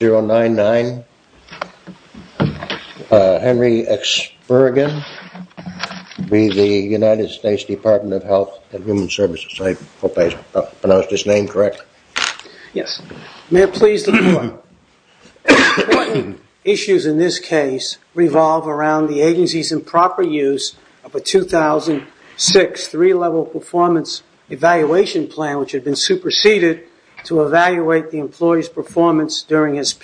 099 Henry Experigin v. the United States Department of Health and Human Services. I hope I pronounced his name correctly. Yes. May it please the court, important issues in this case revolve around the agency's improper use of a 2006 three-level performance evaluation plan which contained different performance standards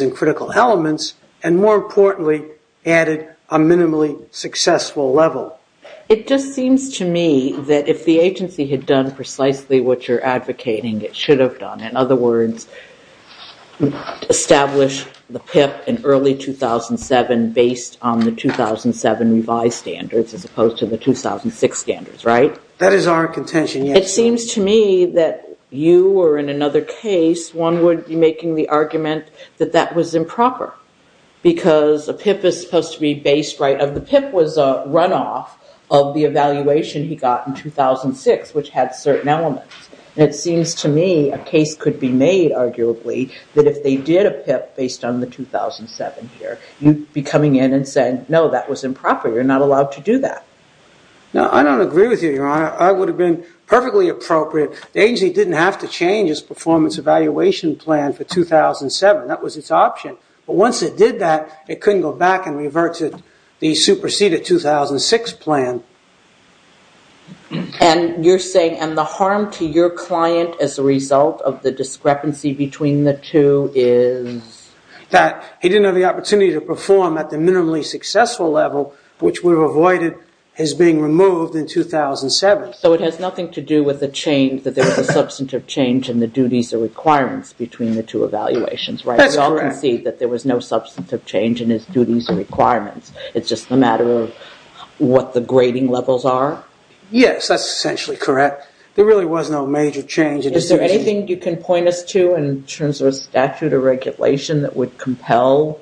and critical elements, and more importantly, added a minimally successful level. It just seems to me that if the agency had done precisely what you're advocating, it should have done. In other words, establish the PIP in early 2007 based on the 2007 revised PIP, and the agency should have used the current 2007 four-level performance evaluation plan, which contained different performance standards and critical elements, and more importantly, added a minimally successful level. So the agency should have used the 2005 standards as opposed to the 2006 standards, right? That is our contention, yes. It seems to me that you or in another case, one would be making the argument that that was improper because a PIP is supposed to be based right on the PIP was a runoff of the evaluation he got in 2006, which had certain elements. And it seems to me a case could be made, arguably, that if they did a PIP based on the 2007 here, you'd be coming in and saying, no, that was improper. You're not allowed to do that. No, I don't agree with you, Your Honor. I would have been perfectly appropriate. The agency didn't have to change its performance evaluation plan for 2007. That was its option. But once it did that, it couldn't go back and revert to the superseded 2006 plan. And you're saying, and the harm to your client as a result of the discrepancy between the two is? That he didn't have the opportunity to perform at the minimally successful level, which would have avoided his being removed in 2007. So it has nothing to do with the change, that there was a substantive change in the duties or requirements between the two evaluations, right? That's correct. I don't see that there was no substantive change in his duties or requirements. It's just a matter of what the grading levels are? Yes, that's essentially correct. There really was no major change. Is there anything you can point us to in terms of a statute or regulation that would compel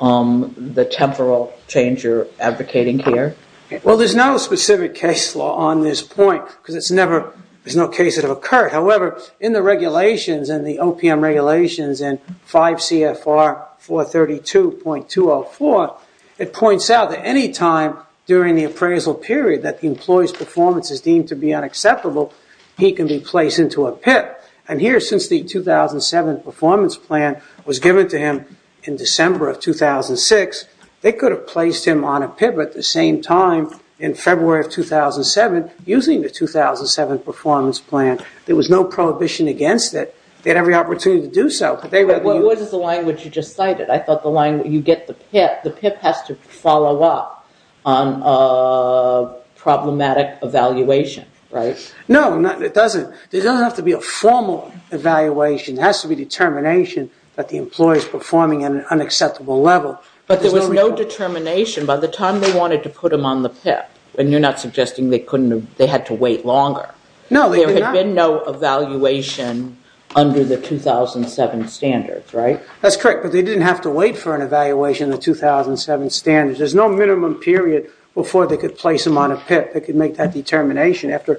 the temporal change you're advocating here? Well, there's no specific case law on this point, because there's no case that have occurred. However, in the regulations and the OPM regulations in 5 CFR 432.204, it points out that any time during the appraisal period that the employee's performance is deemed to be unacceptable, he can be placed into a PIP. And here, since the 2007 performance plan was given to him in December of 2006, they could have placed him on a PIP at the same time in February of 2007, using the 2007 performance plan. There was no prohibition against it. They had every opportunity to do so. What is the line which you just cited? I thought the line where you get the PIP, the PIP has to follow up on a problematic evaluation, right? No, it doesn't. There doesn't have to be a formal evaluation. There has to be determination that the employee's performing at an unacceptable level. But there was no determination by the time they wanted to put him on the PIP, and you're not suggesting they had to wait longer? No, they did not. There had been no evaluation under the 2007 standards, right? That's correct, but they didn't have to wait for an evaluation in the 2007 standards. There's no minimum period before they could place him on a PIP. They could make that determination after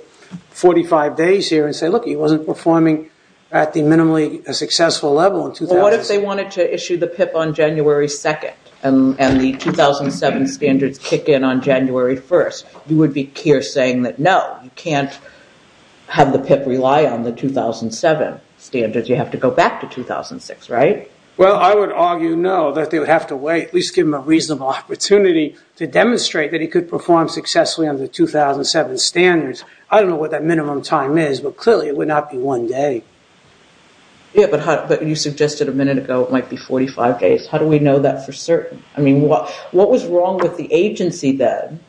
45 days here and say, look, he wasn't performing at the minimally successful level. Well, what if they wanted to issue the PIP on January 2nd and the 2007 standards kick in on January 1st? You would be saying that, no, you can't have the PIP rely on the 2007 standards. You have to go back to 2006, right? Well, I would argue no, that they would have to wait. At least give him a reasonable opportunity to demonstrate that he could perform successfully under the 2007 standards. I don't know what that minimum time is, but clearly it would not be one day. Yeah, but you suggested a minute ago it might be 45 days. How do we know that for certain? I mean, what was wrong with the agency then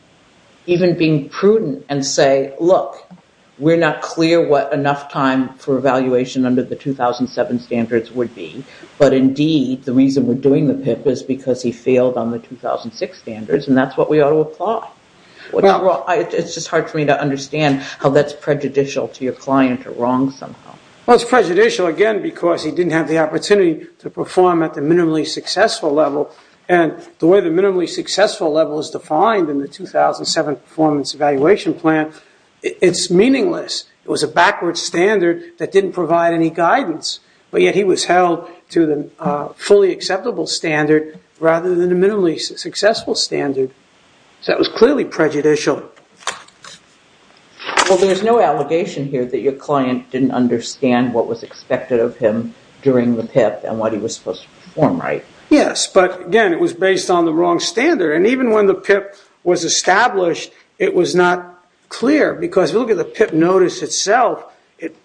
even being prudent and say, look, we're not clear what enough time for evaluation under the 2007 standards would be, but indeed the reason we're doing the PIP is because he failed on the 2006 standards and that's what we ought to apply. It's just hard for me to understand how that's prejudicial to your client or wrong somehow. Well, it's prejudicial again because he didn't have the opportunity to perform at the minimally successful level and the way the minimally successful level is defined in the 2007 performance evaluation plan, it's meaningless. It was a backward standard that didn't provide any guidance, but yet he was held to the fully acceptable standard rather than the minimally successful standard. So that was clearly prejudicial. Well, there's no allegation here that your client didn't understand what was expected of him during the PIP and what he was supposed to perform, right? Yes, but again, it was based on the wrong standard and even when the PIP was established, it was not clear because if you look at the PIP notice itself, it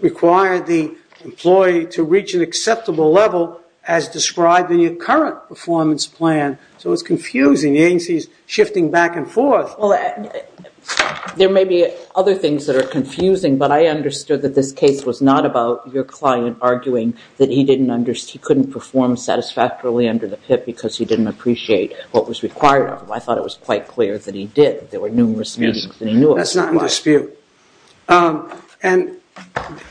required the employee to reach an acceptable level as described in your current performance plan, so it's confusing. The agency is shifting back and forth. Well, there may be other things that are confusing, but I understood that this case was not about your client arguing that he couldn't perform satisfactorily under the PIP because he didn't appreciate what was required of him. I thought it was quite clear that he did. There were numerous meetings that he knew of. That's not in dispute. And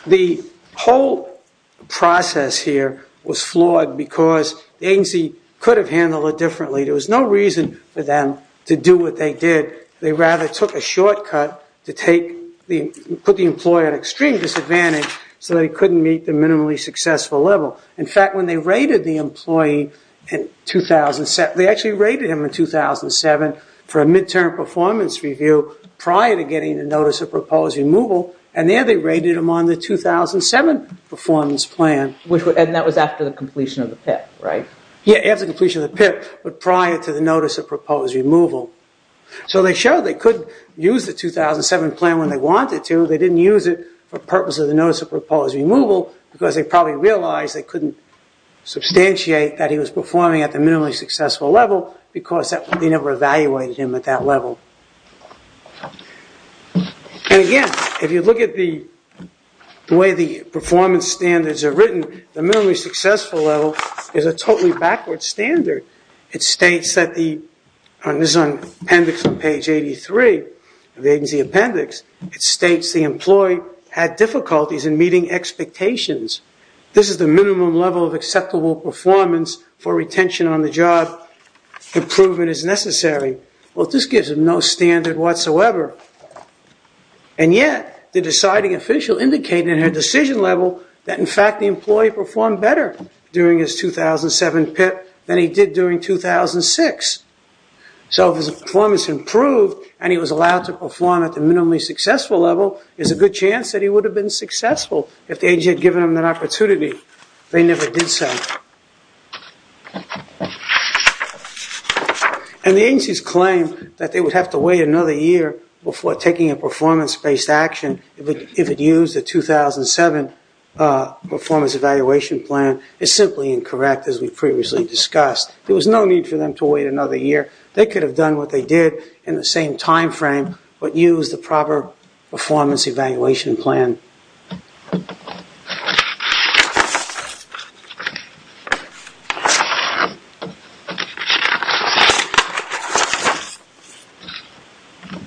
the whole process here was flawed because the agency could have handled it differently. There was no reason for them to do what they did. They rather took a shortcut to put the employer at extreme disadvantage so they couldn't meet the minimally successful level. In fact, when they rated the employee in 2007, they actually rated him in 2007 for a mid-term performance review prior to getting the Notice of Proposed Removal, and there they rated him on the 2007 performance plan. And that was after the completion of the PIP, right? Yes, after the completion of the PIP, but prior to the Notice of Proposed Removal. So they showed they could use the 2007 plan when they wanted to. They didn't use it for purpose of the Notice of Proposed Removal because they probably realized they couldn't substantiate that he was performing at the minimally successful level because they never evaluated him at that level. And again, if you look at the way the performance standards are written, the minimally successful level is a totally backward standard. It states that the, and this is on appendix on page 83 of the agency appendix, it states the employee had difficulties in meeting expectations. This is the minimum level of acceptable performance for retention on the job. Improvement is necessary. Well, this gives him no standard whatsoever. And yet, the deciding official indicated in her decision level that in fact the employee performed better during his 2007 PIP than he did during 2006. So if his performance improved and he was allowed to perform at the minimally successful level, there's a good chance that he would have been successful if the agency had given him that opportunity. They never did so. And the agencies claimed that they would have to wait another year before taking a performance-based action if it used the 2007 performance evaluation plan. It's simply incorrect as we previously discussed. There was no need for them to wait another year. They could have done what they did in the same time frame but used the proper performance evaluation plan.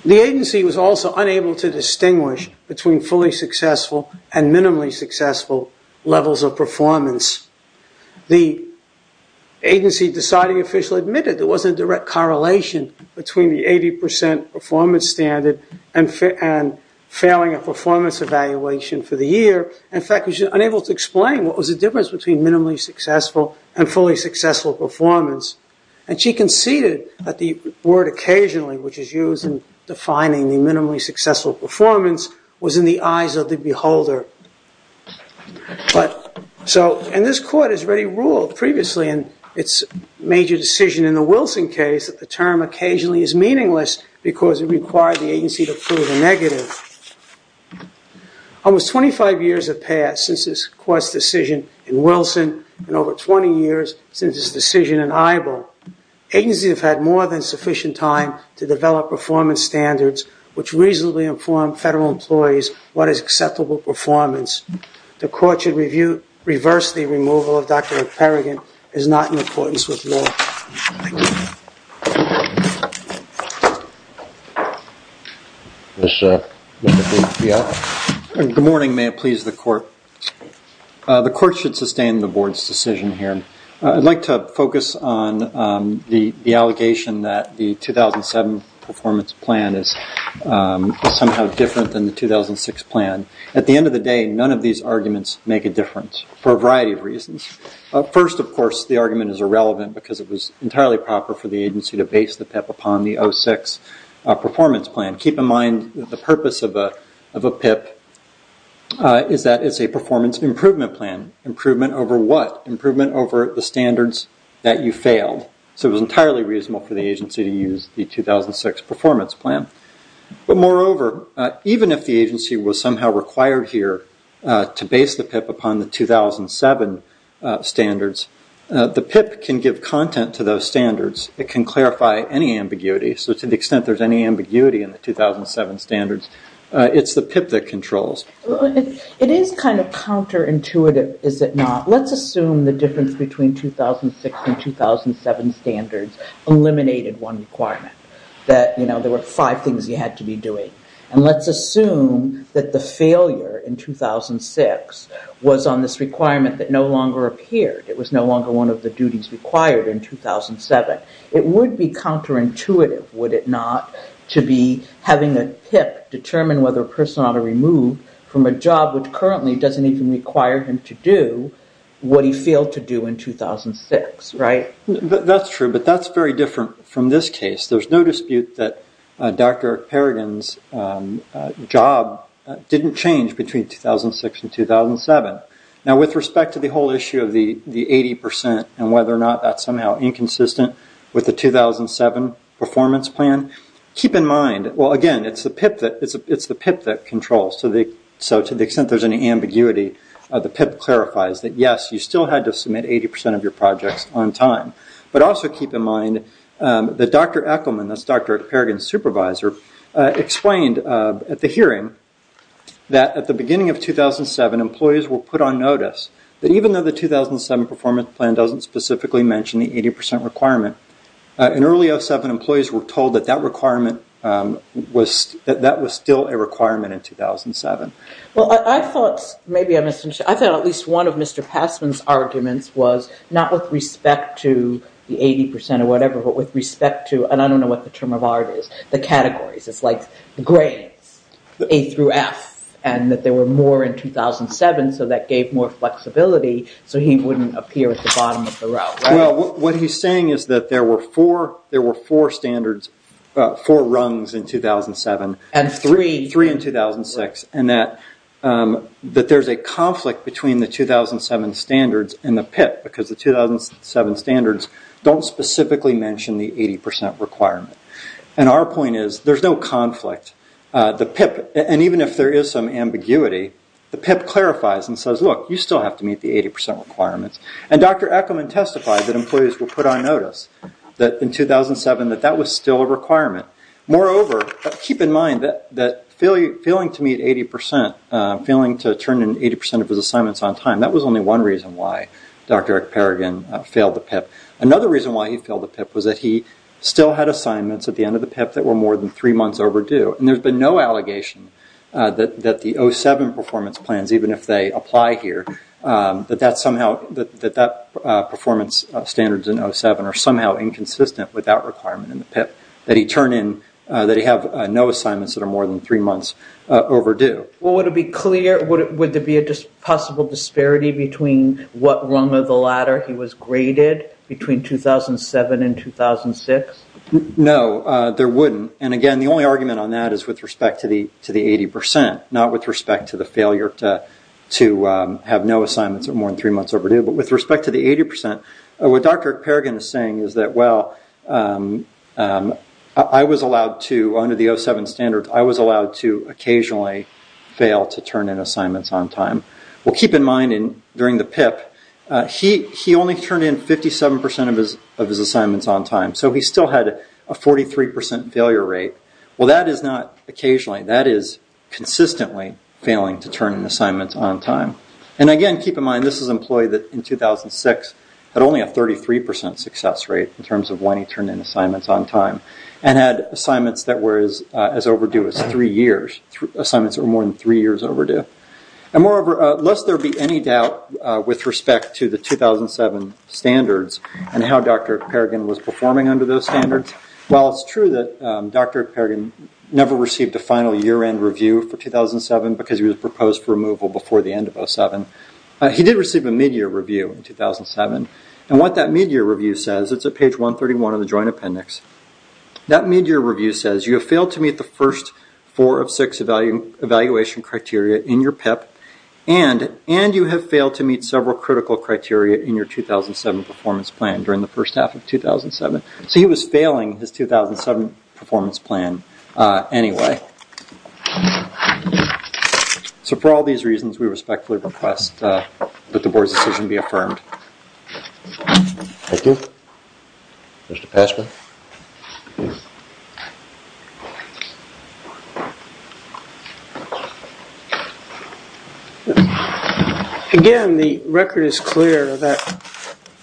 The agency was also unable to distinguish between fully successful and minimally successful levels of performance. The agency deciding official admitted there was a direct correlation between the 80% performance standard and failing a performance evaluation for the year. In fact, she was unable to explain what was the difference between minimally successful and fully successful performance. And she conceded that the word occasionally, which is used in defining the minimally successful performance, was in the eyes of the beholder. And this court has already ruled previously in its major decision in the Wilson case that the term occasionally is meaningless because it required the agency to prove a negative. Almost 25 years have passed since this court's decision in Wilson and over 20 years since its decision in Ibo. Agencies have had more than sufficient time to develop performance standards which reasonably inform federal employees what is acceptable performance. The court should reverse the removal of Dr. Perrigan is not in accordance with law. Good morning. May it please the court. The court should sustain the board's decision here. I'd like to focus on the allegation that the 2007 performance plan is somehow different than the 2006 plan. At the end of the day, none of these arguments make a difference for a variety of reasons. First, of course, the argument is irrelevant because it was entirely proper for the agency to base the PIP upon the 06 performance plan. Keep in mind that the purpose of a PIP is that it's a performance improvement plan. Improvement over what? Improvement over the standards that you failed. It was entirely reasonable for the agency to use the 2006 performance plan. Moreover, even if the agency was somehow required here to base the PIP upon the 2007 standards, the PIP can give content to those standards. It can clarify any ambiguity. To the extent there's any ambiguity in the 2007 standards, it's the PIP that controls. It is kind of counterintuitive, is it not? Let's assume the difference between 2006 and 2007 standards eliminated one requirement, that there were five things you had to be doing. Let's assume that the failure in 2006 was on this requirement that no longer appeared. It was no longer one of the duties required in 2007. It would be counterintuitive, would it not, to be having a PIP determine whether a person ought to be removed from a job which currently doesn't even require him to do what he failed to do in 2006, right? That's true, but that's very different from this case. There's no dispute that Dr. Perrigan's job didn't change between 2006 and 2007. Now, with respect to the whole issue of the 80% and whether or not that's somehow inconsistent with the 2007 performance plan, keep in mind, well, again, it's the PIP that controls. So to the extent there's any ambiguity, the PIP clarifies that, yes, you still had to submit 80% of your projects on time. But also keep in mind that Dr. Ekelman, that's Dr. Perrigan's supervisor, explained at the hearing that at the beginning of 2007, employees were put on notice that even though the 2007 performance plan doesn't specifically mention the 80% requirement, in early 2007, employees were told that that requirement was still a requirement in 2007. Well, I thought maybe I misunderstood. I thought at least one of Mr. Passman's arguments was not with respect to the 80% or whatever, but with respect to, and I don't know what the term of art is, the categories. It's like the grades, A through F, and that there were more in 2007, so that gave more flexibility so he wouldn't appear at the bottom of the row. Well, what he's saying is that there were four standards, four rungs in 2007. And three. Three in 2006, and that there's a conflict between the 2007 standards and the PIP because the 2007 standards don't specifically mention the 80% requirement. And our point is there's no conflict. The PIP, and even if there is some ambiguity, the PIP clarifies and says, look, you still have to meet the 80% requirements. And Dr. Eckelman testified that employees were put on notice in 2007 that that was still a requirement. Moreover, keep in mind that failing to meet 80%, failing to turn in 80% of his assignments on time, that was only one reason why Dr. Perrigan failed the PIP. Another reason why he failed the PIP was that he still had assignments at the end of the PIP that were more than three months overdue. And there's been no allegation that the 07 performance plans, even if they apply here, that that performance standards in 07 are somehow inconsistent with that requirement in the PIP, that he have no assignments that are more than three months overdue. Well, would it be clear, would there be a possible disparity between what rung of the ladder he was graded between 2007 and 2006? No, there wouldn't. And again, the only argument on that is with respect to the 80%, not with respect to the failure to have no assignments that are more than three months overdue. But with respect to the 80%, what Dr. Perrigan is saying is that, well, I was allowed to, under the 07 standards, I was allowed to occasionally fail to turn in assignments on time. Well, keep in mind, during the PIP, he only turned in 57% of his assignments on time, so he still had a 43% failure rate. Well, that is not occasionally. That is consistently failing to turn in assignments on time. And again, keep in mind, this is an employee that, in 2006, had only a 33% success rate in terms of when he turned in assignments on time and had assignments that were as overdue as three years, assignments that were more than three years overdue. And moreover, lest there be any doubt with respect to the 2007 standards and how Dr. Perrigan was performing under those standards, well, it's true that Dr. Perrigan never received a final year-end review for 2007 because he was proposed for removal before the end of 07. He did receive a mid-year review in 2007. And what that mid-year review says, it's at page 131 of the Joint Appendix, that mid-year review says, you have failed to meet the first four of six evaluation criteria in your PIP and you have failed to meet several critical criteria in your 2007 performance plan during the first half of 2007. So he was failing his 2007 performance plan anyway. So for all these reasons, we respectfully request that the Board's decision be affirmed. Thank you. Mr. Passman. Again, the record is clear that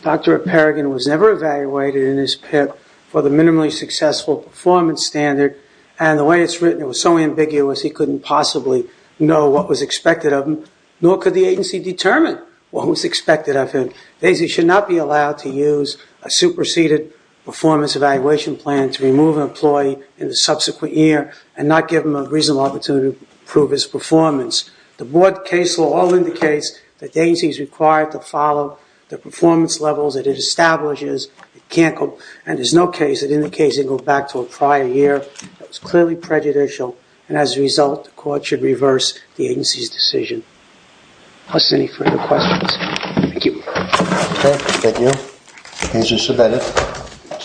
Dr. Perrigan was never evaluated in his PIP for the minimally successful performance standard. And the way it's written, it was so ambiguous, he couldn't possibly know what was expected of him, nor could the agency determine what was expected of him. The agency should not be allowed to use a superseded performance evaluation plan to remove an employee in the subsequent year and not give him a reasonable opportunity to prove his performance. The Board case law all indicates that the agency is required to follow the performance levels that it establishes. And there's no case that indicates it goes back to a prior year. That's clearly prejudicial. And as a result, the Court should reverse the agency's decision. If there's any further questions. Thank you.